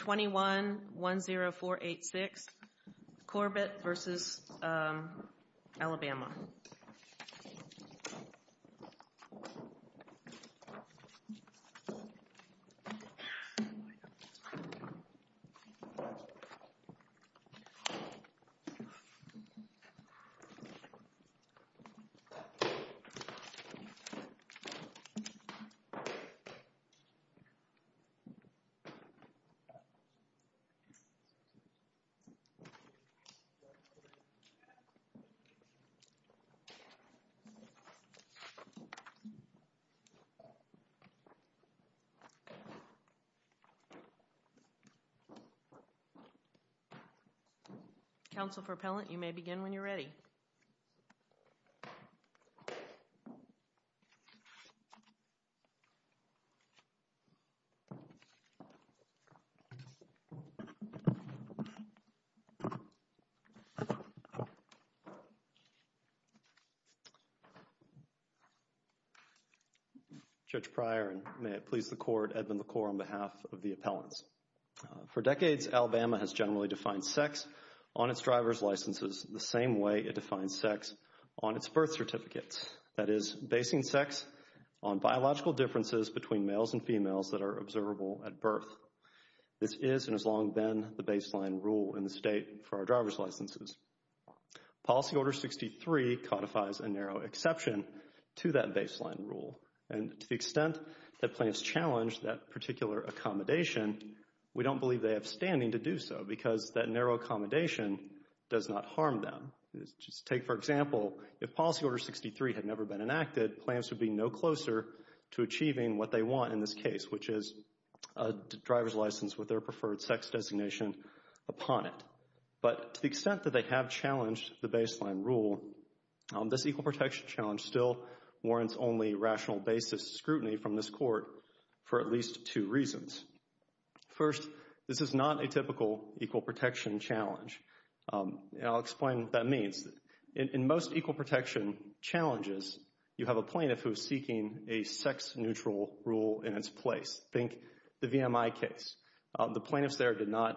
21-10486 Corbitt v. Alabama Council for appellant you may begin when you're ready. Judge Pryor and may it please the court, Edmund LaCour on behalf of the appellants. For decades, Alabama has generally defined sex on its driver's licenses the same way it defines sex on its birth certificates. That is, basing sex on biological differences between males and females that are observable at birth. This is and has long been the baseline rule in the state for our driver's licenses. Policy Order 63 codifies a narrow exception to that baseline rule. And to the extent that plans challenge that particular accommodation, we don't believe they have standing to do so because that narrow accommodation does not harm them. Just take for example, if Policy Order 63 had never been enacted, plans would be no closer to achieving what they want in this case, which is a driver's license with their preferred sex designation upon it. But to the extent that they have challenged the baseline rule, this equal protection challenge still warrants only rational basis scrutiny from this court for at least two reasons. First, this is not a typical equal protection challenge. And I'll explain what that means. In most equal protection challenges, you have a plaintiff who is seeking a sex-neutral rule in its place. Think the VMI case. The plaintiffs there did not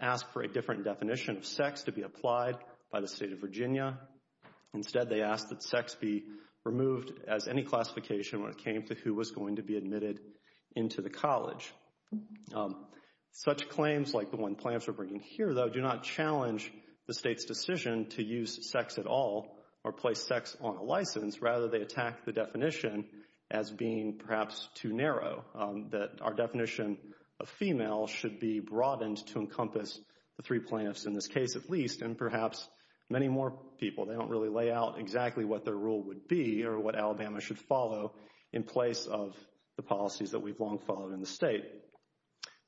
ask for a different definition of sex to be applied by the state of Virginia. Instead, they asked that sex be removed as any classification when it came to who was going to be admitted into the college. Such claims, like the one plaintiffs are bringing here though, do not challenge the state's decision to use sex at all or place sex on a license. Rather, they attack the definition as being perhaps too narrow. That our definition of female should be broadened to encompass the three plaintiffs in this case at least, and perhaps many more people. They don't really lay out exactly what their rule would be or what Alabama should follow in place of the policies that we've long followed in the state.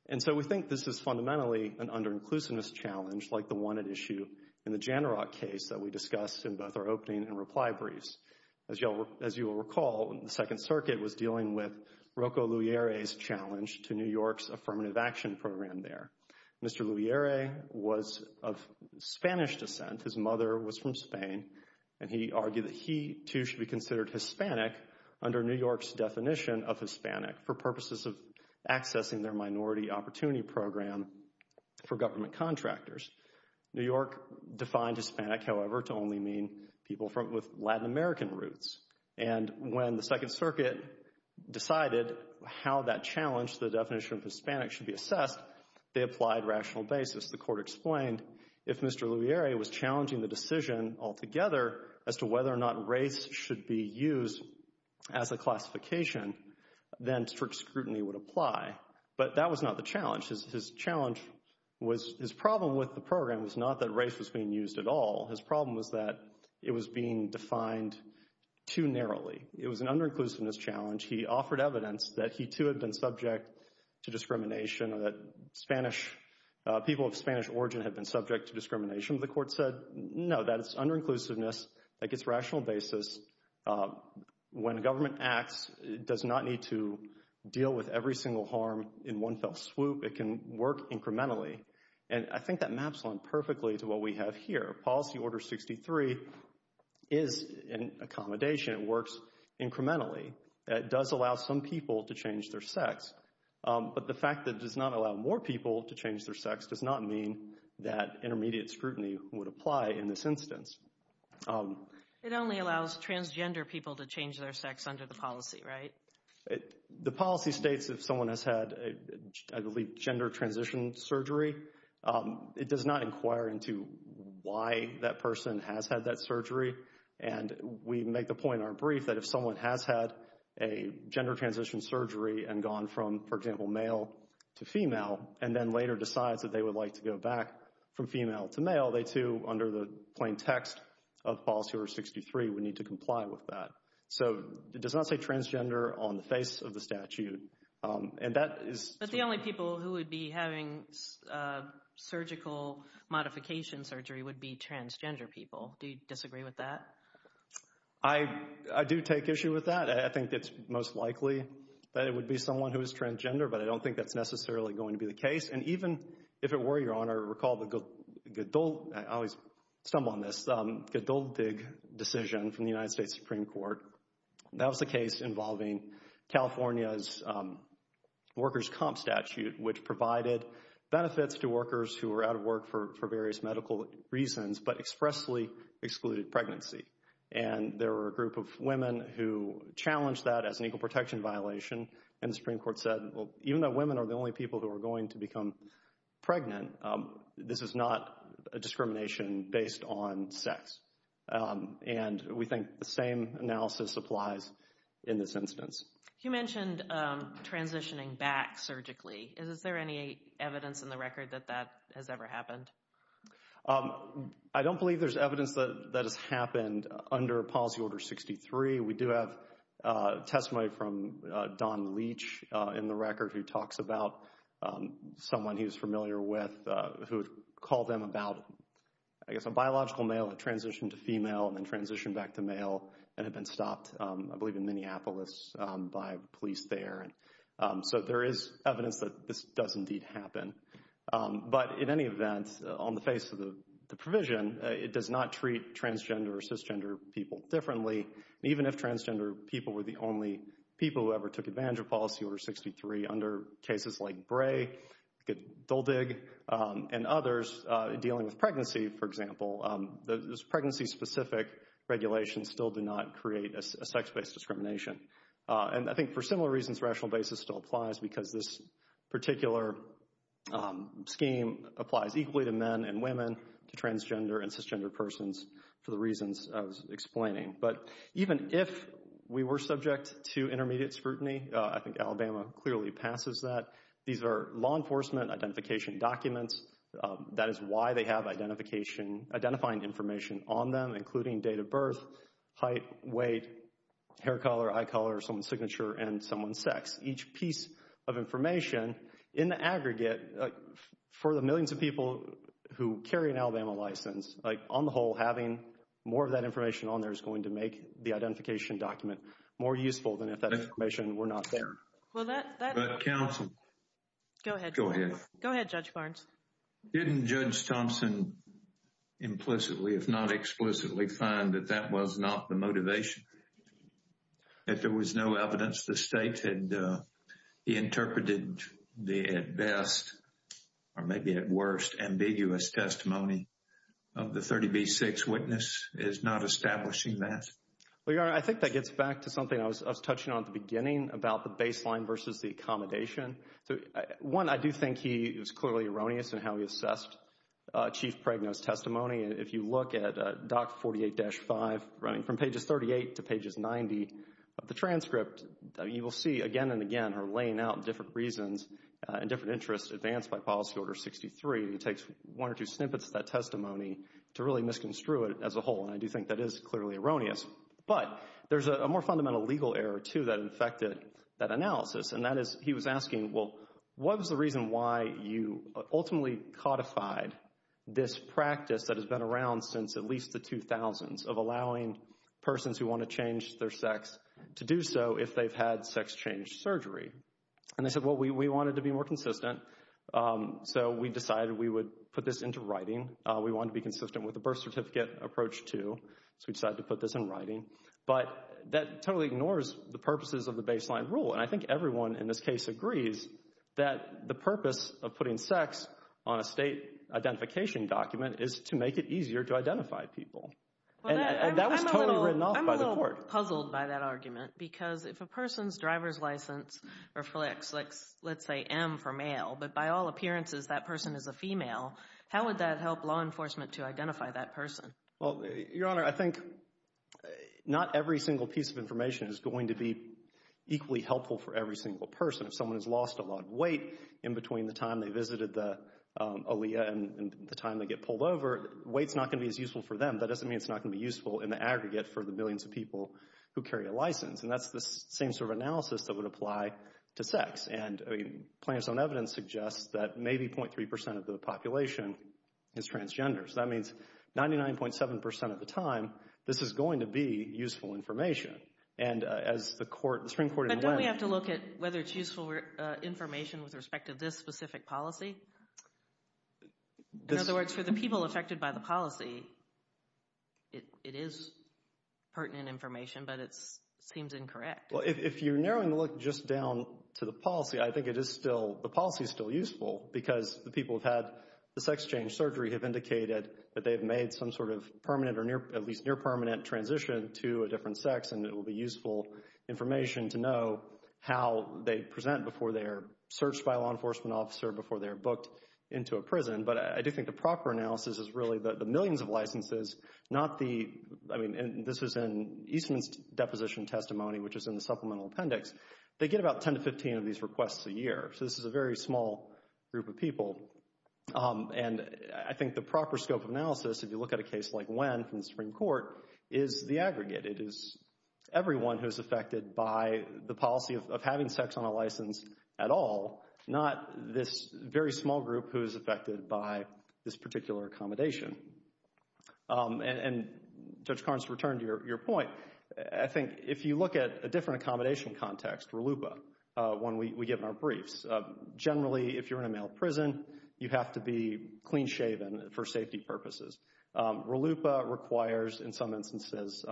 And so we think this is fundamentally an under-inclusiveness challenge like the one at issue in the Janirak case that we discussed in both our opening and reply briefs. As you will recall, the Second Circuit was dealing with Rocco Lugiere's challenge to New York's Affirmative Action Program there. Mr. Lugiere was of Spanish descent. His mother was from Spain, and he argued that he, too, should be considered Hispanic under New York's definition of Hispanic for purposes of accessing their minority opportunity program for government contractors. New York defined Hispanic, however, to only mean people with Latin American roots. And when the Second Circuit decided how that challenged the definition of Hispanic should be assessed, they applied rational basis. The court explained if Mr. Lugiere was challenging the decision altogether as to whether or not race should be used as a classification, then strict scrutiny would apply. But that was not the challenge. His challenge was—his problem with the program was not that race was being used at all. His problem was that it was being defined too narrowly. It was an under-inclusiveness challenge. He offered evidence that he, too, had been subject to discrimination or that Spanish—people of Spanish origin had been subject to discrimination. The court said, no, that it's under-inclusiveness that gets rational basis. When government acts, it does not need to deal with every single harm in one fell swoop. It can work incrementally. And I think that maps on perfectly to what we have here. Policy Order 63 is an accommodation. It works incrementally. It does allow some people to change their sex. But the fact that it does not allow more people to change their sex does not mean that intermediate scrutiny would apply in this instance. It only allows transgender people to change their sex under the policy, right? The policy states if someone has had, I believe, gender transition surgery, it does not inquire into why that person has had that surgery. And we make the point in our brief that if someone has had a gender transition surgery and gone from, for example, male to female, and then later decides that they would like to go back from female to male, they, too, under the plain text of Policy Order 63, would need to comply with that. So it does not say transgender on the face of the statute. And that is... But the only people who would be having surgical modification surgery would be transgender people. Do you disagree with that? I do take issue with that. I think it's most likely that it would be someone who is transgender, but I don't think that's necessarily going to be the case. And even if it were, Your Honor, recall the Godoldig decision from the United States Supreme Court. That was the case involving California's workers' comp statute, which provided benefits to workers who were out of work for various medical reasons, but expressly excluded pregnancy. And there were a group of women who challenged that as an equal protection violation. And the Supreme Court said, well, even though women are the only people who are going to become pregnant, this is not a discrimination based on sex. And we think the same analysis applies in this instance. You mentioned transitioning back surgically. Is there any evidence in the record that that has ever happened? I don't believe there's evidence that that has happened under Policy Order 63. We do have testimony from Don Leach in the record who talks about someone he's familiar with who called them about, I guess, a biological male that transitioned to female and then transitioned back to male and had been stopped, I believe, in Minneapolis by police there. So there is evidence that this does indeed happen. But in any event, on the face of the provision, it does not treat transgender or cisgender people differently. Even if transgender people were the only people who ever took advantage of Policy Order 63, under cases like Bray, Doldig, and others dealing with pregnancy, for example, those pregnancy-specific regulations still do not create a sex-based discrimination. And I think for similar reasons, rational basis still applies because this particular scheme applies equally to men and women, to transgender and cisgender persons, for the reasons I was explaining. But even if we were subject to intermediate scrutiny, I think Alabama clearly passes that. These are law enforcement identification documents. That is why they have identifying information on them, including date of birth, height, weight, hair color, eye color, someone's signature, and someone's sex. Each piece of information, in the aggregate, for the millions of people who carry an Alabama license, on the whole, having more of that information on there is going to make the identification document more useful than if that information were not there. But counsel... Go ahead. Go ahead. Go ahead, Judge Barnes. Didn't Judge Thompson implicitly, if not explicitly, find that that was not the motivation? If there was no evidence, the state had interpreted the, at best, or maybe at worst, ambiguous testimony of the 30B6 witness as not establishing that. Well, Your Honor, I think that gets back to something I was touching on at the beginning about the baseline versus the accommodation. So, one, I do think he was clearly erroneous in how he assessed Chief Pregnant's testimony. If you look at Doc 48-5, running from pages 38 to pages 90 of the transcript, you will see again and again her laying out different reasons and different interests advanced by the person who snippets that testimony to really misconstrue it as a whole, and I do think that is clearly erroneous. But there's a more fundamental legal error, too, that affected that analysis, and that is he was asking, well, what was the reason why you ultimately codified this practice that has been around since at least the 2000s of allowing persons who want to change their sex to do so if they've had sex change surgery? And they said, well, we wanted to be more consistent, so we decided we would put this into writing. We wanted to be consistent with the birth certificate approach, too, so we decided to put this in writing. But that totally ignores the purposes of the baseline rule, and I think everyone in this case agrees that the purpose of putting sex on a state identification document is to make it easier to identify people, and that was totally written off by the court. I'm a little puzzled by that argument, because if a person's driver's license reflects, let's How would that help law enforcement to identify that person? Well, Your Honor, I think not every single piece of information is going to be equally helpful for every single person. If someone has lost a lot of weight in between the time they visited the ALEA and the time they get pulled over, weight's not going to be as useful for them. That doesn't mean it's not going to be useful in the aggregate for the millions of people who carry a license, and that's the same sort of analysis that would apply to sex. And Plain and Stone evidence suggests that maybe 0.3% of the population is transgender, so that means 99.7% of the time, this is going to be useful information. And as the Supreme Court in the West... But don't we have to look at whether it's useful information with respect to this specific policy? In other words, for the people affected by the policy, it is pertinent information, but it seems incorrect. Well, if you're narrowing the look just down to the policy, I think it is still... The policy is still useful because the people who've had the sex change surgery have indicated that they've made some sort of permanent or at least near-permanent transition to a different sex, and it will be useful information to know how they present before they are searched by a law enforcement officer, before they are booked into a prison. But I do think the proper analysis is really the millions of licenses, not the... Supplemental appendix. They get about 10 to 15 of these requests a year, so this is a very small group of people. And I think the proper scope of analysis, if you look at a case like Wen from the Supreme Court, is the aggregate. It is everyone who is affected by the policy of having sex on a license at all, not this very small group who is affected by this particular accommodation. And, Judge Carnes, to return to your point, I think if you look at a different accommodation context, RLUIPA, when we give our briefs, generally if you're in a male prison, you have to be clean-shaven for safety purposes. RLUIPA requires, in some instances,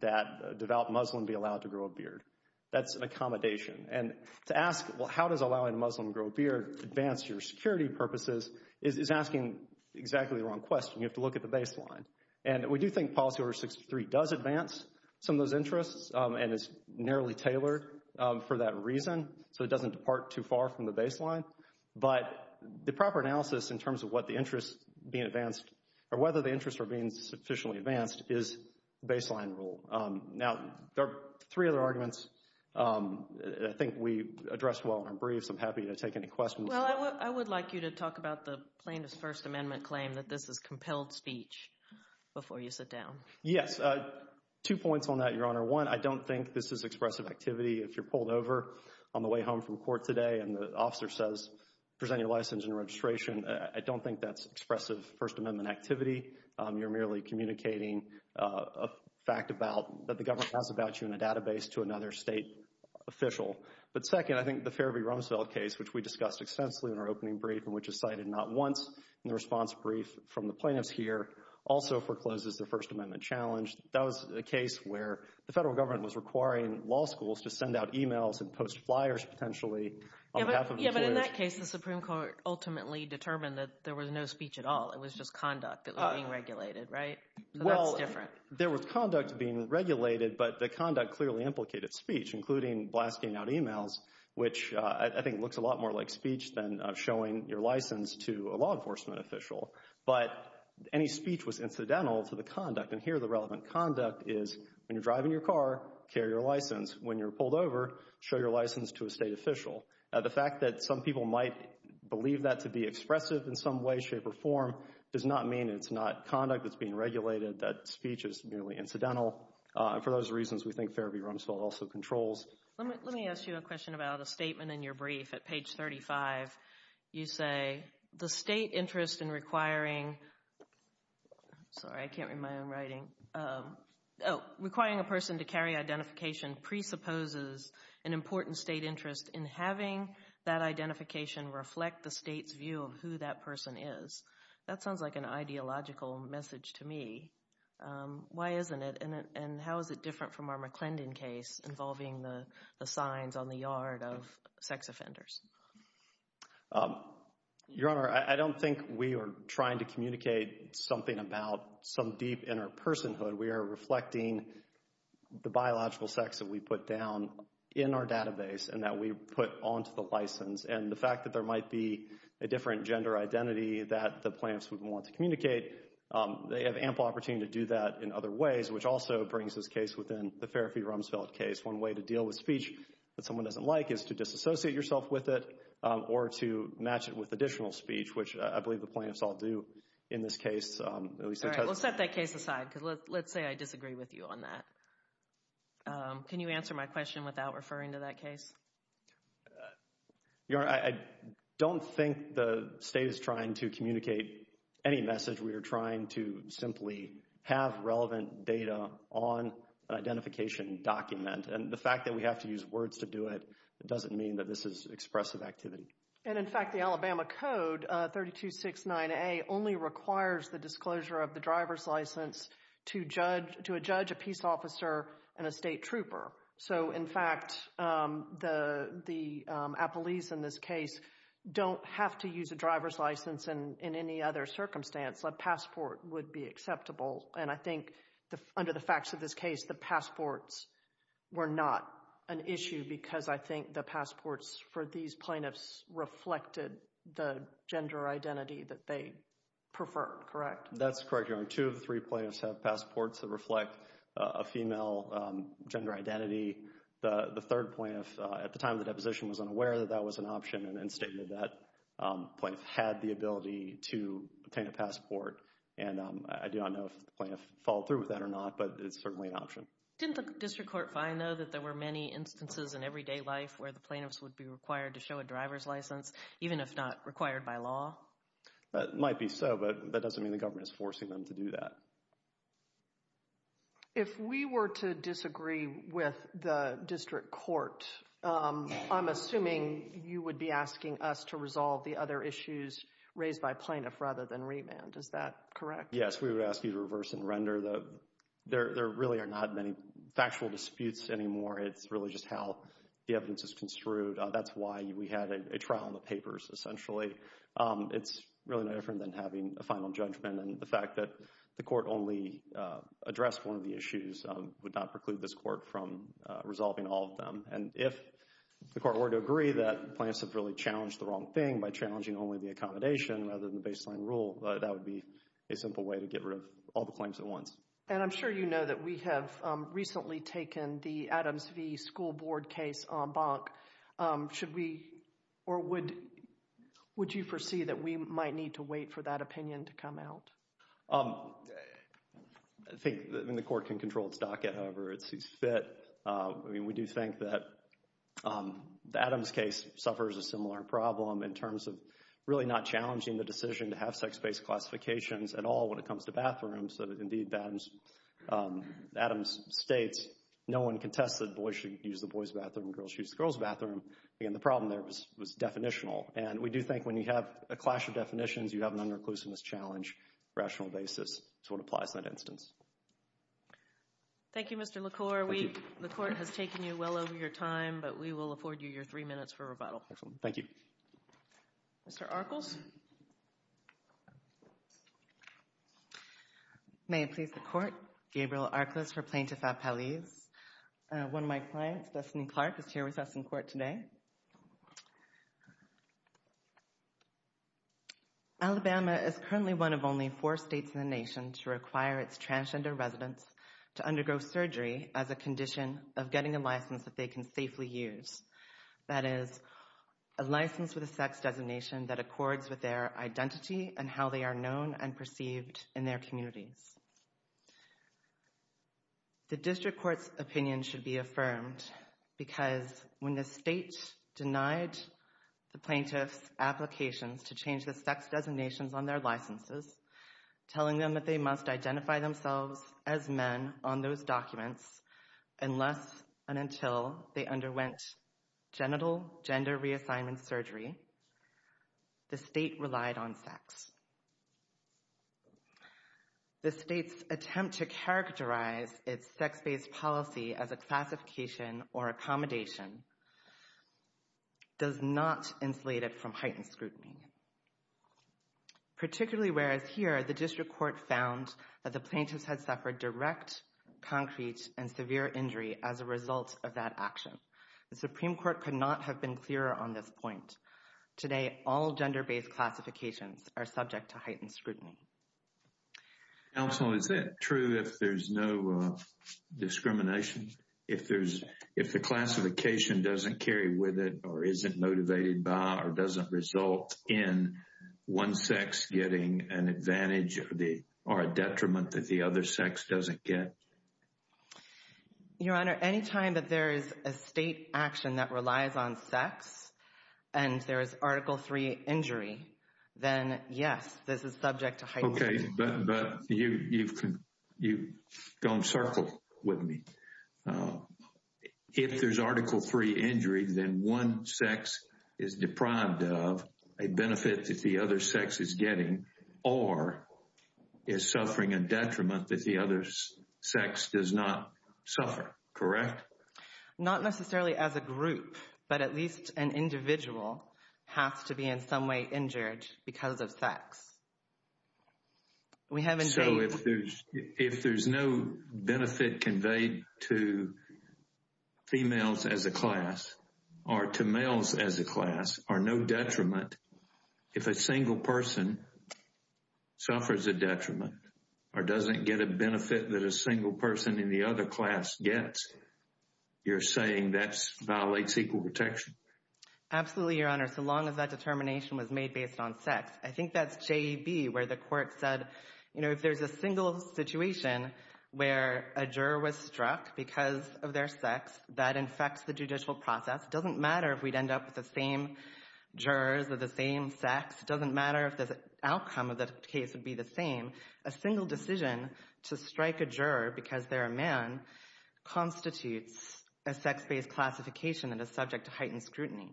that a devout Muslim be allowed to grow a beard. That's an accommodation. And to ask, well, how does allowing a Muslim to grow a beard advance your security purposes, is asking exactly the wrong question. You have to look at the baseline. And we do think Policy Order 63 does advance some of those interests, and it's narrowly tailored for that reason, so it doesn't depart too far from the baseline. But the proper analysis in terms of what the interests being advanced, or whether the interests are being sufficiently advanced, is the baseline rule. Now, there are three other arguments that I think we addressed well in our briefs. I'm happy to take any questions. Well, I would like you to talk about the plaintiff's First Amendment claim that this is compelled speech before you sit down. Yes. Two points on that, Your Honor. One, I don't think this is expressive activity. If you're pulled over on the way home from court today, and the officer says, present your license and your registration, I don't think that's expressive First Amendment activity. You're merely communicating a fact about, that the government has about you in a database to another state official. But second, I think the Fairview-Rumsfeld case, which we discussed extensively in our opening brief, and which is cited not once in the response brief from the plaintiffs here, also forecloses the First Amendment challenge. That was a case where the federal government was requiring law schools to send out emails and post flyers, potentially, on behalf of employers. Yeah, but in that case, the Supreme Court ultimately determined that there was no speech at all. It was just conduct that was being regulated, right? So that's different. Well, there was conduct being regulated, but the conduct clearly implicated speech, including blasting out emails, which I think looks a lot more like speech than showing your license to a law enforcement official. But any speech was incidental to the conduct, and here the relevant conduct is, when you're driving your car, carry your license. When you're pulled over, show your license to a state official. The fact that some people might believe that to be expressive in some way, shape, or form, does not mean it's not conduct that's being regulated, that speech is merely incidental. For those reasons, we think Fairview-Rumsfeld also controls. Let me ask you a question about a statement in your brief at page 35. You say, the state interest in requiring, sorry, I can't read my own writing, requiring a person to carry identification presupposes an important state interest in having that identification reflect the state's view of who that person is. That sounds like an ideological message to me. Why isn't it? And how is it different from our McClendon case involving the signs on the yard of sex offenders? Your Honor, I don't think we are trying to communicate something about some deep inner personhood. We are reflecting the biological sex that we put down in our database and that we put onto the license. And the fact that there might be a different gender identity that the plaintiffs would want to communicate, they have ample opportunity to do that in other ways, which also brings this case within the Fairview-Rumsfeld case. One way to deal with speech that someone doesn't like is to disassociate yourself with it or to match it with additional speech, which I believe the plaintiffs all do in this case. All right. We'll set that case aside because let's say I disagree with you on that. Can you answer my question without referring to that case? Your Honor, I don't think the state is trying to communicate any message. We are trying to simply have relevant data on an identification document. And the fact that we have to use words to do it doesn't mean that this is expressive activity. And in fact, the Alabama Code 3269A only requires the disclosure of the driver's license to a judge, a peace officer, and a state trooper. So in fact, the appellees in this case don't have to use a driver's license in any other circumstance. A passport would be acceptable. And I think under the facts of this case, the passports were not an issue because I think the passports for these plaintiffs reflected the gender identity that they preferred, correct? That's correct, Your Honor. Two of the three plaintiffs have passports that reflect a female gender identity. The third plaintiff, at the time of the deposition, was unaware that that was an option and then stated that the plaintiff had the ability to obtain a passport. And I do not know if the plaintiff followed through with that or not, but it's certainly an option. Didn't the district court find, though, that there were many instances in everyday life where the plaintiffs would be required to show a driver's license, even if not required by law? It might be so, but that doesn't mean the government is forcing them to do that. If we were to disagree with the district court, I'm assuming you would be asking us to resolve the other issues raised by plaintiff rather than remand. Is that correct? Yes, we would ask you to reverse and render. There really are not many factual disputes anymore. It's really just how the evidence is construed. That's why we had a trial in the papers, essentially. It's really no different than having a final judgment and the fact that the court only addressed one of the issues would not preclude this court from resolving all of them. And if the court were to agree that the plaintiffs have really challenged the wrong thing by challenging only the accommodation rather than the baseline rule, that would be a simple way to get rid of all the claims at once. And I'm sure you know that we have recently taken the Adams v. School Board case on Bonk. Should we, or would you foresee that we might need to wait for that opinion to come out? I think the court can control its docket, however it sees fit. We do think that the Adams case suffers a similar problem in terms of really not challenging the decision to have sex-based classifications at all when it comes to bathrooms, so that indeed, Adams states, no one contests that boys should use the boys' bathroom, girls should use the girls' bathroom. Again, the problem there was definitional. And we do think when you have a clash of definitions, you have an under-inclusiveness challenge rational basis to what applies to that instance. Thank you, Mr. LaCour. Thank you. The court has taken you well over your time, but we will afford you your three minutes for rebuttal. Excellent. Thank you. Mr. Arkels? May it please the court, Gabrielle Arkels for Plaintiff at Palais. One of my clients, Destiny Clark, is here with us in court today. Alabama is currently one of only four states in the nation to require its transgender residents to undergo surgery as a condition of getting a license that they can safely use. That is, a license with a sex designation that accords with their identity and how they are known and perceived in their communities. The district court's opinion should be affirmed because when the state denied the plaintiffs' applications to change the sex designations on their licenses, telling them that they must identify themselves as men on those documents unless and until they underwent genital gender reassignment surgery, the state relied on sex. The state's attempt to characterize its sex-based policy as a classification or accommodation does not insulate it from heightened scrutiny. Particularly where it's here, the district court found that the plaintiffs had suffered direct, concrete, and severe injury as a result of that action. The Supreme Court could not have been clearer on this point. Today, all gender-based classifications are subject to heightened scrutiny. Counsel, is it true if there's no discrimination, if the classification doesn't carry with it or isn't motivated by or doesn't result in one sex getting an advantage or a detriment that the other sex doesn't get? Your Honor, any time that there is a state action that relies on sex and there is Article 3 injury, then yes, this is subject to heightened scrutiny. Okay, but you've gone circle with me. If there's Article 3 injury, then one sex is deprived of a benefit that the other sex is getting or is suffering a detriment that the other sex does not suffer, correct? Not necessarily as a group, but at least an individual has to be in some way injured because of sex. So, if there's no benefit conveyed to females as a class or to males as a class or no detriment, if a single person suffers a detriment or doesn't get a benefit that a single person in the other class gets, you're saying that violates equal protection? Absolutely, Your Honor, so long as that determination was made based on sex. I think that's J.E.B. where the court said, you know, if there's a single situation where a juror was struck because of their sex that infects the judicial process, it doesn't matter if we'd end up with the same jurors with the same sex, it doesn't matter if the outcome of the case would be the same. A single decision to strike a juror because they're a man constitutes a sex-based classification and is subject to heightened scrutiny.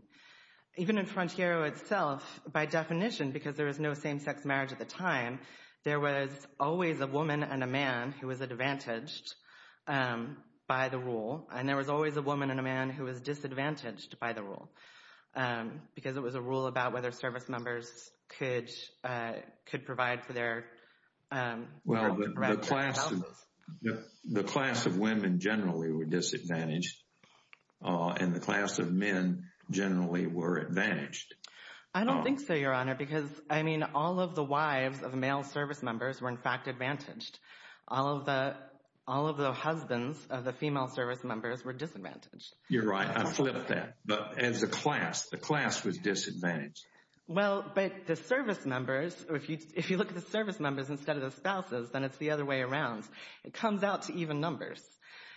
Even in Frontiero itself, by definition, because there was no same-sex marriage at the time, there was always a woman and a man who was advantaged by the rule, and there was always a woman and a man who was disadvantaged by the rule, because it was a rule about whether service members could provide for their well-being. Well, the class of women generally were disadvantaged, and the class of men generally were advantaged. I don't think so, Your Honor, because, I mean, all of the wives of male service members were in fact advantaged. All of the husbands of the female service members were disadvantaged. You're right, I flipped that, but as a class, the class was disadvantaged. Well, but the service members, if you look at the service members instead of the spouses, then it's the other way around. It comes out to even numbers.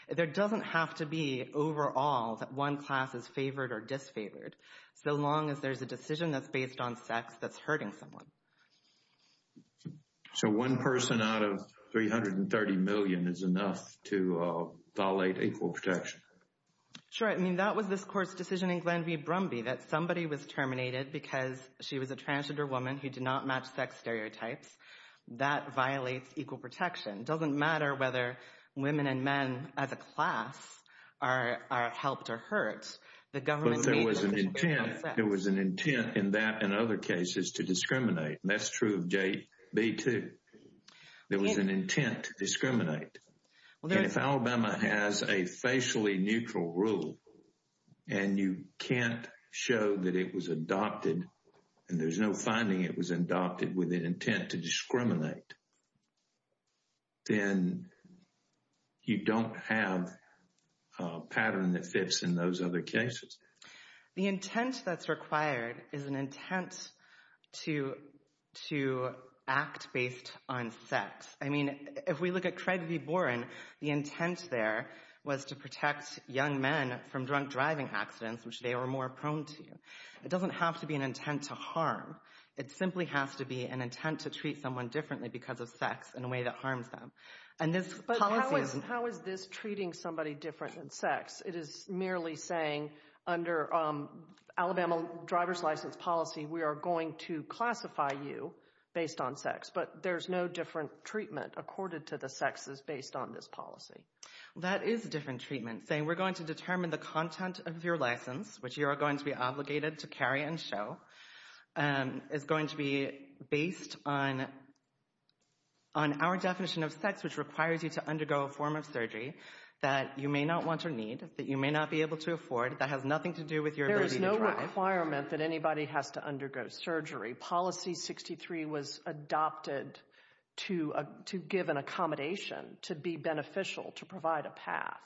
There doesn't have to be, overall, that one class is favored or disfavored, so long as there's a decision that's based on sex that's hurting someone. So one person out of 330 million is enough to violate equal protection? Sure, I mean, that was this Court's decision in Glenview Brumby, that somebody was terminated because she was a transgender woman who did not match sex stereotypes. That violates equal protection. It doesn't matter whether women and men as a class are helped or hurt, the government made the decision based on sex. But there was an intent, there was an intent in that and other cases to discriminate, and that's true of J.B. too. There was an intent to discriminate. If Alabama has a facially neutral rule and you can't show that it was adopted and there's no finding it was adopted with an intent to discriminate, then you don't have a pattern that fits in those other cases. The intent that's required is an intent to act based on sex. I mean, if we look at Craig v. Boren, the intent there was to protect young men from drunk driving accidents, which they were more prone to. It doesn't have to be an intent to harm. It simply has to be an intent to treat someone differently because of sex in a way that harms them. But how is this treating somebody different than sex? It is merely saying, under Alabama driver's license policy, we are going to classify you based on sex, but there's no different treatment accorded to the sexes based on this policy. That is different treatment, saying we're going to determine the content of your license, which you are going to be obligated to carry and show, is going to be based on our definition of sex, which requires you to undergo a form of surgery that you may not want or need, that you may not be able to afford, that has nothing to do with your ability to drive. There is no requirement that anybody has to undergo surgery. Policy 63 was adopted to give an accommodation, to be beneficial, to provide a path.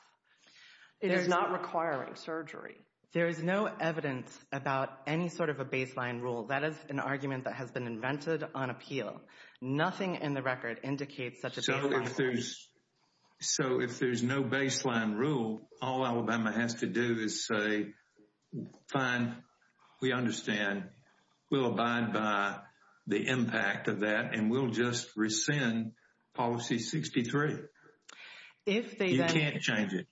It is not requiring surgery. There is no evidence about any sort of a baseline rule. That is an argument that has been invented on appeal. Nothing in the record indicates such a baseline rule. So if there's no baseline rule, all Alabama has to do is say, fine, we understand, we'll abide by the impact of that, and we'll just rescind Policy 63. If they then... You can't change it.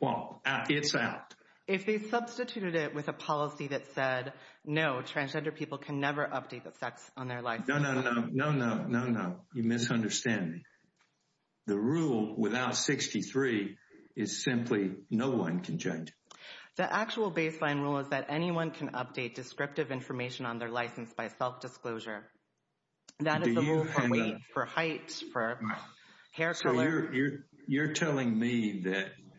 Well, it's out. If they substituted it with a policy that said, no, transgender people can never update the sex on their license... No, no, no, no, no, no, no, you misunderstand me. The rule without 63 is simply no one can change it. The actual baseline rule is that anyone can update descriptive information on their license by self-disclosure. That is the rule for weight, for height, for hair color. You're telling me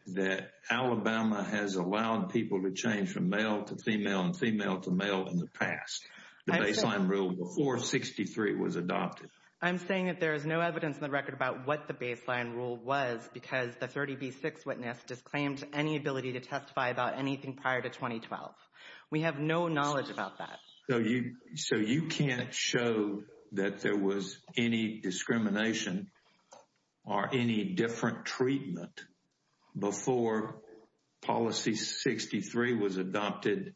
that Alabama has allowed people to change from male to female and female to male in the past, the baseline rule before 63 was adopted. I'm saying that there is no evidence in the record about what the baseline rule was because the 30B6 witness disclaimed any ability to testify about anything prior to 2012. We have no knowledge about that. So you can't show that there was any discrimination or any different treatment before Policy 63 was adopted,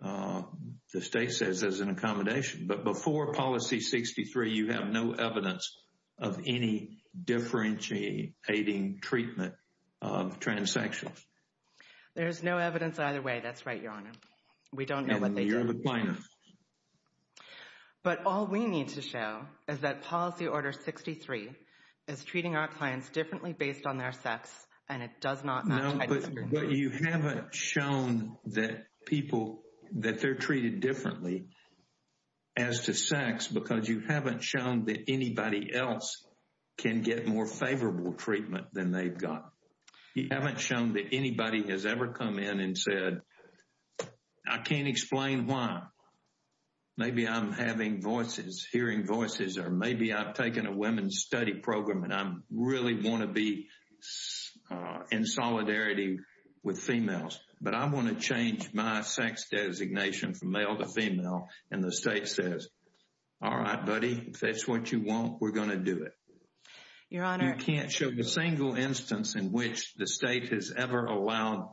the state says, as an accommodation. But before Policy 63, you have no evidence of any differentiating treatment of transsexuals. There's no evidence either way. That's right, Your Honor. We don't know what they do. But all we need to show is that Policy Order 63 is treating our clients differently based on their sex and it does not... But you haven't shown that people, that they're treated differently as to sex because you haven't shown that anybody else can get more favorable treatment than they've got. You haven't shown that anybody has ever come in and said, I can't explain why. Maybe I'm having voices, hearing voices, or maybe I've taken a women's study program and I really want to be in solidarity with females, but I want to change my sex designation from male to female and the state says, all right, buddy, if that's what you want, we're going to do it. Your Honor... You can't show a single instance in which the state has ever allowed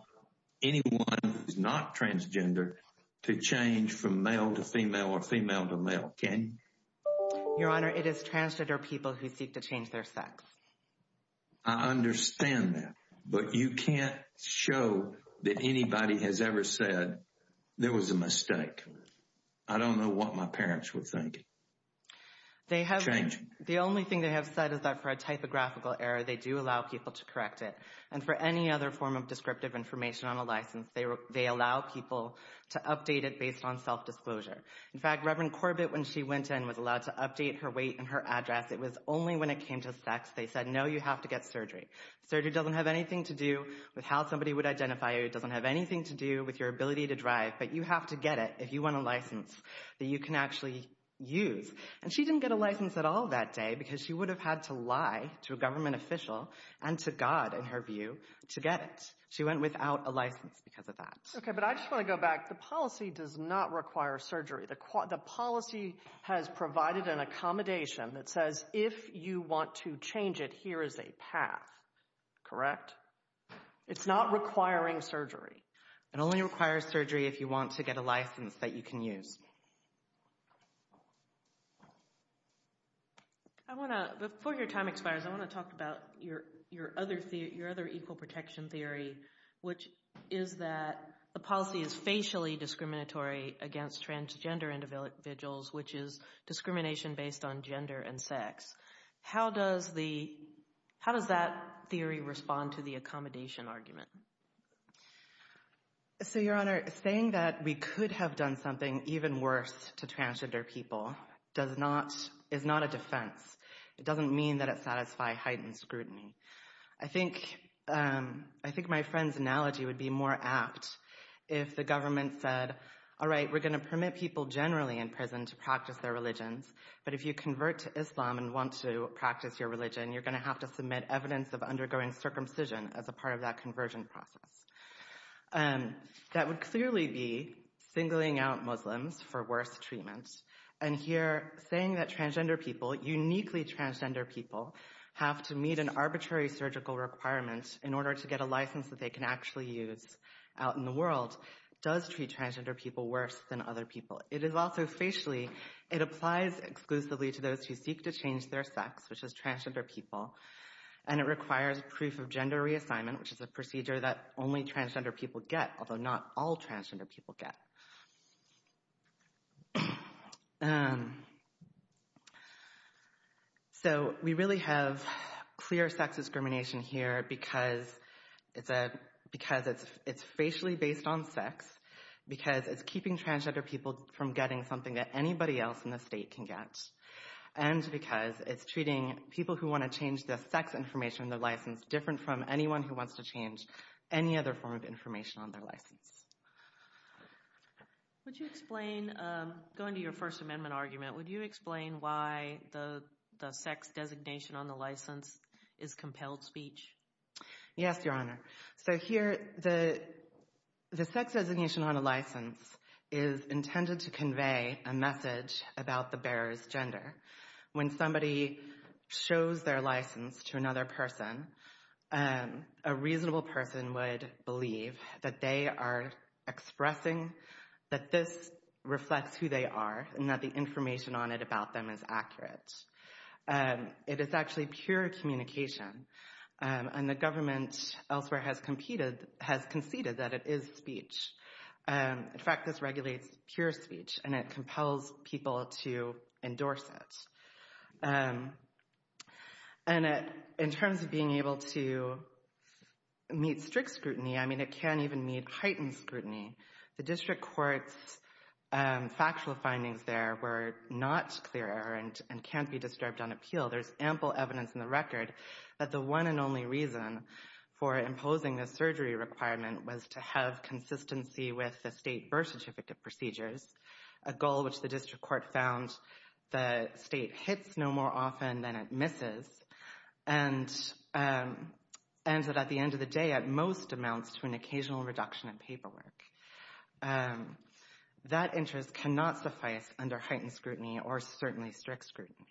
anyone who's not transgender to change from male to female or female to male, can you? Your Honor, it is transgender people who seek to change their sex. I understand that, but you can't show that anybody has ever said there was a mistake. I don't know what my parents would think. They have... Change. The only thing they have said is that for a typographical error, they do allow people to correct it. And for any other form of descriptive information on a license, they allow people to update it based on self-disclosure. In fact, Reverend Corbett, when she went in, was allowed to update her weight and her address. It was only when it came to sex they said, no, you have to get surgery. Surgery doesn't have anything to do with how somebody would identify you. It doesn't have anything to do with your ability to drive, but you have to get it if you want a license that you can actually use. And she didn't get a license at all that day because she would have had to lie to a government official and to God, in her view, to get it. She went without a license because of that. Okay, but I just want to go back. In fact, the policy does not require surgery. The policy has provided an accommodation that says if you want to change it, here is a path. Correct? It's not requiring surgery. It only requires surgery if you want to get a license that you can use. I want to... Before your time expires, I want to talk about your other equal protection theory, which is that the policy is facially discriminatory against transgender individuals, which is discrimination based on gender and sex. How does that theory respond to the accommodation argument? So, Your Honor, saying that we could have done something even worse to transgender people is not a defense. It doesn't mean that it satisfies heightened scrutiny. I think my friend's analogy would be more apt if the government said, all right, we're going to permit people generally in prison to practice their religions, but if you convert to Islam and want to practice your religion, you're going to have to submit evidence of undergoing circumcision as a part of that conversion process. That would clearly be singling out Muslims for worse treatment. And here, saying that transgender people, uniquely transgender people, have to meet an arbitrary surgical requirement in order to get a license that they can actually use out in the world does treat transgender people worse than other people. It is also facially, it applies exclusively to those who seek to change their sex, which is transgender people, and it requires proof of gender reassignment, which is a procedure that only transgender people get, although not all transgender people get. So, we really have clear sex discrimination here because it's facially based on sex, because it's keeping transgender people from getting something that anybody else in the state can get, and because it's treating people who want to change their sex information on their license different from anyone who wants to change any other form of information on their license. Would you explain, going to your First Amendment argument, would you explain why the sex designation on the license is compelled speech? Yes, Your Honor. So here, the sex designation on a license is intended to convey a message about the bearer's gender. When somebody shows their license to another person, a reasonable person would believe that they are expressing, that this reflects who they are, and that the information on it about them is accurate. It is actually pure communication, and the government elsewhere has conceded that it is speech. In fact, this regulates pure speech, and it compels people to endorse it. And in terms of being able to meet strict scrutiny, I mean, it can't even meet heightened scrutiny. The District Court's factual findings there were not clear and can't be disturbed on appeal. There's ample evidence in the record that the one and only reason for imposing this surgery requirement was to have consistency with the state birth certificate procedures, a goal which the District Court found the state hits no more often than it misses, and that at the end of the day, at most, amounts to an occasional reduction in paperwork. That interest cannot suffice under heightened scrutiny or certainly strict scrutiny.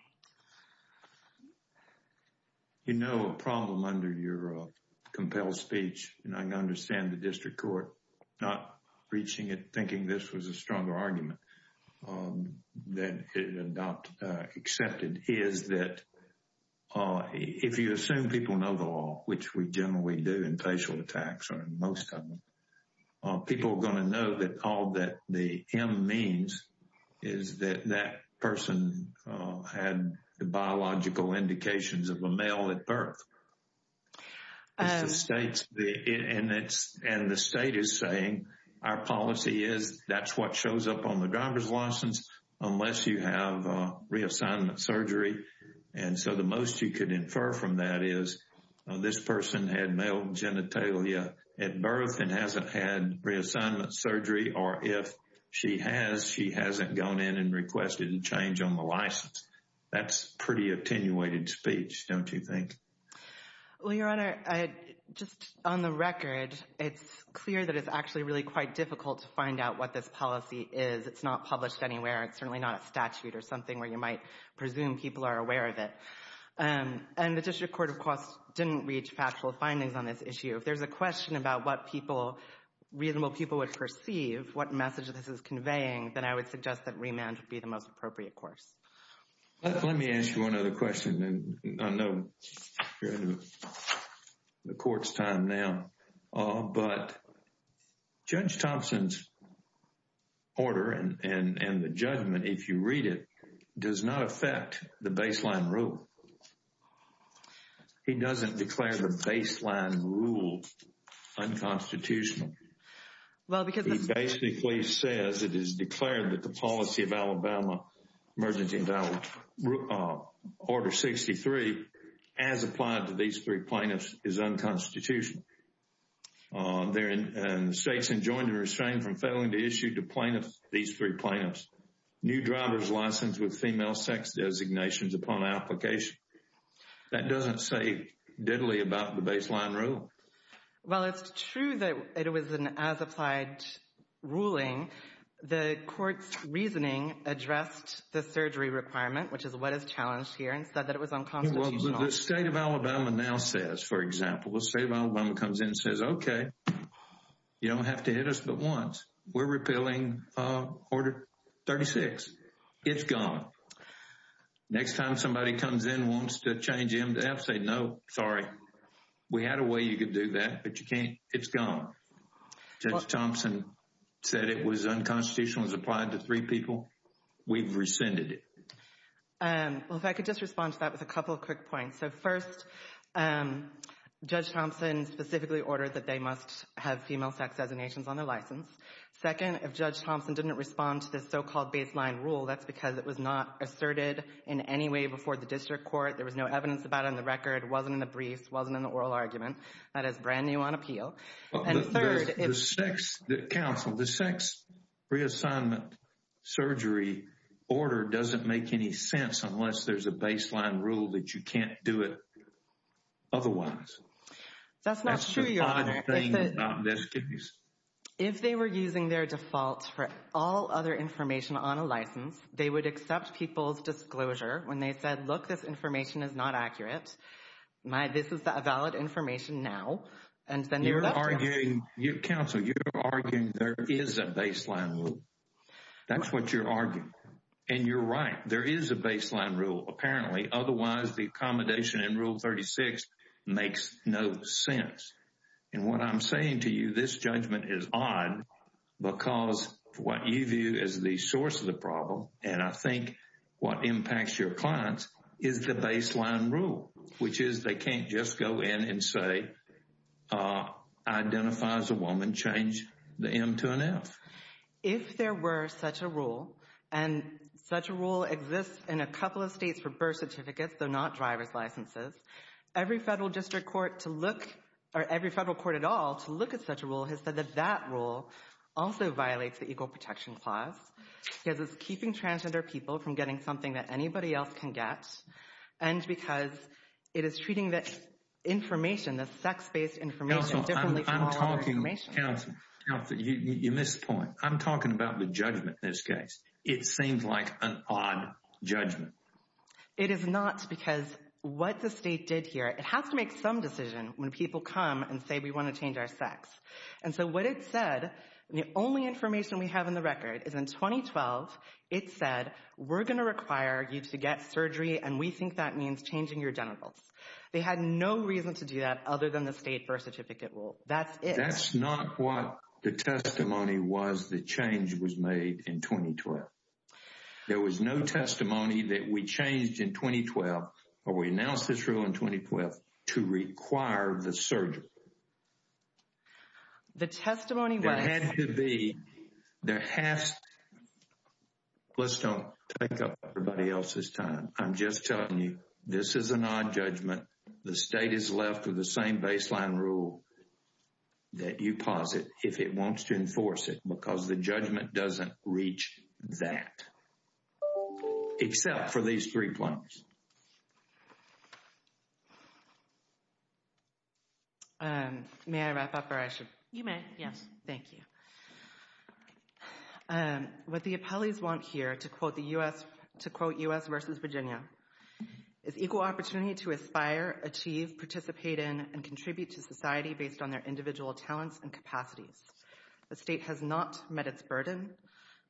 You know a problem under your compelled speech, and I understand the District Court not reaching it thinking this was a stronger argument than it had not accepted, is that if you assume people know the law, which we generally do in facial attacks and most of them, people are going to know that all that the M means is that that person had the biological indications of a male at birth. And the state is saying our policy is that's what shows up on the driver's license unless you have reassignment surgery. And so the most you could infer from that is this person had male genitalia at birth and hasn't had reassignment surgery, or if she has, she hasn't gone in and requested a change on the license. That's pretty attenuated speech, don't you think? Well, Your Honor, just on the record, it's clear that it's actually really quite difficult to find out what this policy is. It's not published anywhere. It's certainly not a statute or something where you might presume people are aware of it. And the District Court, of course, didn't reach factual findings on this issue. If there's a question about what reasonable people would perceive, what message this is Let me ask you one other question, and I know you're in the court's time now, but Judge Thompson's order and the judgment, if you read it, does not affect the baseline rule. He doesn't declare the baseline rule unconstitutional. He basically says it is declared that the policy of Alabama Emergency Invalid Order 63, as applied to these three plaintiffs, is unconstitutional. And states enjoined and restrained from failing to issue to plaintiffs these three plaintiffs new driver's license with female sex designations upon application. That doesn't say deadly about the baseline rule. While it's true that it was an as-applied ruling, the court's reasoning addressed the surgery requirement, which is what is challenged here, and said that it was unconstitutional. The state of Alabama now says, for example, the state of Alabama comes in and says, OK, you don't have to hit us but once. We're repealing Order 36. It's gone. Next time somebody comes in, wants to change MDAF, say no, sorry. We had a way you could do that, but you can't. It's gone. Judge Thompson said it was unconstitutional and was applied to three people. We've rescinded it. Well, if I could just respond to that with a couple of quick points. So first, Judge Thompson specifically ordered that they must have female sex designations on their license. Second, if Judge Thompson didn't respond to this so-called baseline rule, that's because it was not asserted in any way before the district court. There was no evidence about it on the record, wasn't in the briefs, wasn't in the oral argument. That is brand new on appeal. And third, if... Counsel, the sex reassignment surgery order doesn't make any sense unless there's a baseline rule that you can't do it otherwise. That's the odd thing about this case. If they were using their defaults for all other information on a license, they would people's disclosure when they said, look, this information is not accurate. This is a valid information now. And then they were left out. You're arguing... Counsel, you're arguing there is a baseline rule. That's what you're arguing. And you're right. There is a baseline rule, apparently, otherwise the accommodation in Rule 36 makes no sense. And what I'm saying to you, this judgment is odd because of what you view as the source of the problem. And I think what impacts your clients is the baseline rule, which is they can't just go in and say, identify as a woman, change the M to an F. If there were such a rule, and such a rule exists in a couple of states for birth certificates, though not driver's licenses, every federal district court to look, or every federal court at all, to look at such a rule has said that that rule also violates the Equal Protection Clause because it's keeping transgender people from getting something that anybody else can get, and because it is treating that information, that sex-based information, differently from all other information. Counsel, I'm talking... Counsel, you missed the point. I'm talking about the judgment in this case. It seems like an odd judgment. It is not because what the state did here, it has to make some decision when people come and say, we want to change our sex. And so what it said, the only information we have in the record, is in 2012, it said, we're going to require you to get surgery, and we think that means changing your genitals. They had no reason to do that other than the state birth certificate rule. That's it. That's not what the testimony was that change was made in 2012. There was no testimony that we changed in 2012, or we announced this rule in 2012, to require the surgery. The testimony... There had to be... There has to... Let's don't take up everybody else's time. I'm just telling you, this is an odd judgment. The state is left with the same baseline rule that you posit if it wants to enforce it, May I wrap up, or I should... You may. Yes. Thank you. What the appellees want here, to quote U.S. vs. Virginia, is equal opportunity to aspire, achieve, participate in, and contribute to society based on their individual talents and capacities. The state has not met its burden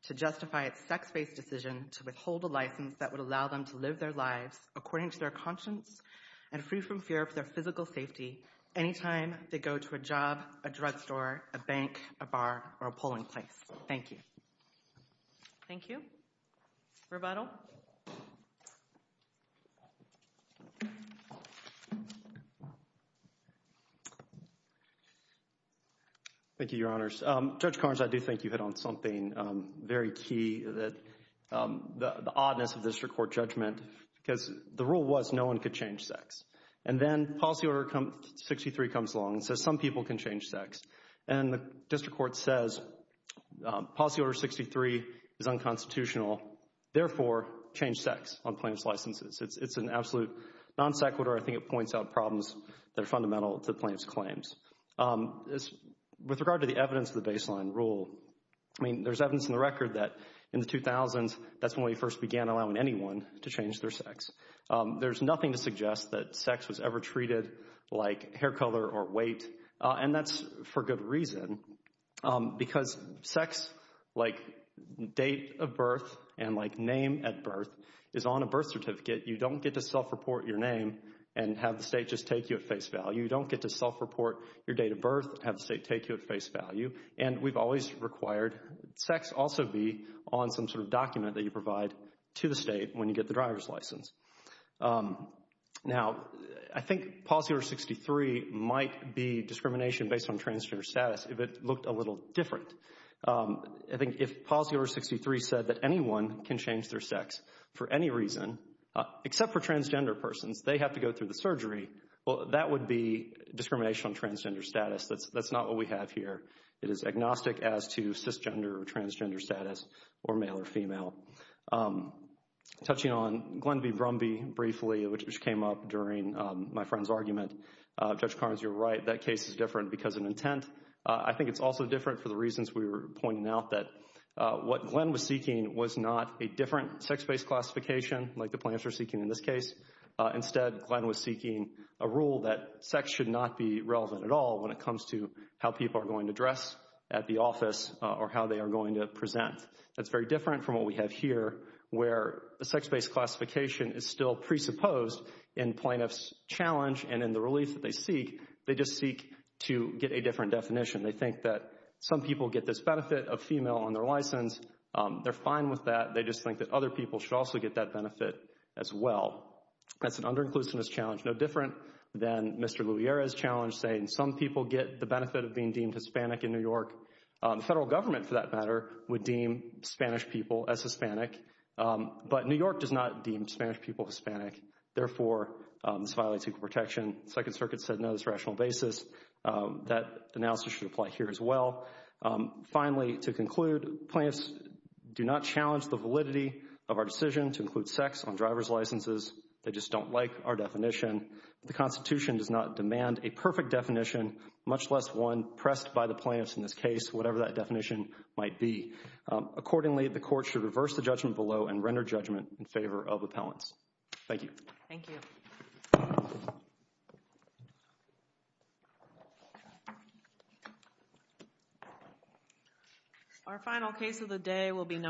to justify its sex-based decision to withhold a license that would allow them to live their lives according to their conscience and free from fear of their physical safety any time they go to a job, a drugstore, a bank, a bar, or a polling place. Thank you. Thank you. Rebuttal. Thank you, Your Honors. Judge Carnes, I do think you hit on something very key, the oddness of this court judgment, because the rule was no one could change sex. And then Policy Order 63 comes along and says some people can change sex. And the district court says Policy Order 63 is unconstitutional, therefore, change sex on plaintiff's licenses. It's an absolute non sequitur. I think it points out problems that are fundamental to the plaintiff's claims. With regard to the evidence of the baseline rule, I mean, there's evidence in the record that in the 2000s, that's when we first began allowing anyone to change their sex. There's nothing to suggest that sex was ever treated like hair color or weight. And that's for good reason, because sex, like date of birth and like name at birth, is on a birth certificate. You don't get to self-report your name and have the state just take you at face value. You don't get to self-report your date of birth and have the state take you at face value. And we've always required sex also be on some sort of document that you provide to the state when you get the driver's license. Now I think Policy Order 63 might be discrimination based on transgender status if it looked a little different. I think if Policy Order 63 said that anyone can change their sex for any reason, except for transgender persons, they have to go through the surgery, well, that would be discrimination on transgender status. That's not what we have here. It is agnostic as to cisgender or transgender status or male or female. Touching on Glenn v. Brumby briefly, which came up during my friend's argument, Judge Carnes, you're right, that case is different because of intent. I think it's also different for the reasons we were pointing out, that what Glenn was seeking was not a different sex-based classification, like the plaintiffs are seeking in this case. Instead, Glenn was seeking a rule that sex should not be relevant at all when it comes to how people are going to dress at the office or how they are going to present. That's very different from what we have here, where a sex-based classification is still presupposed in plaintiff's challenge and in the relief that they seek. They just seek to get a different definition. They think that some people get this benefit of female on their license. They're fine with that. They just think that other people should also get that benefit as well. That's an under-inclusiveness challenge, no different than Mr. Louiera's challenge saying some people get the benefit of being deemed Hispanic in New York. The federal government, for that matter, would deem Spanish people as Hispanic, but New York does not deem Spanish people Hispanic, therefore, this violates equal protection. Second Circuit said no to this on a rational basis. That analysis should apply here as well. Finally, to conclude, plaintiffs do not challenge the validity of our decision to include sex on driver's licenses. They just don't like our definition. The Constitution does not demand a perfect definition, much less one pressed by the plaintiffs in this case, whatever that definition might be. Accordingly, the court should reverse the judgment below and render judgment in favor of appellants. Thank you. Thank you. Our final case of the day will be no.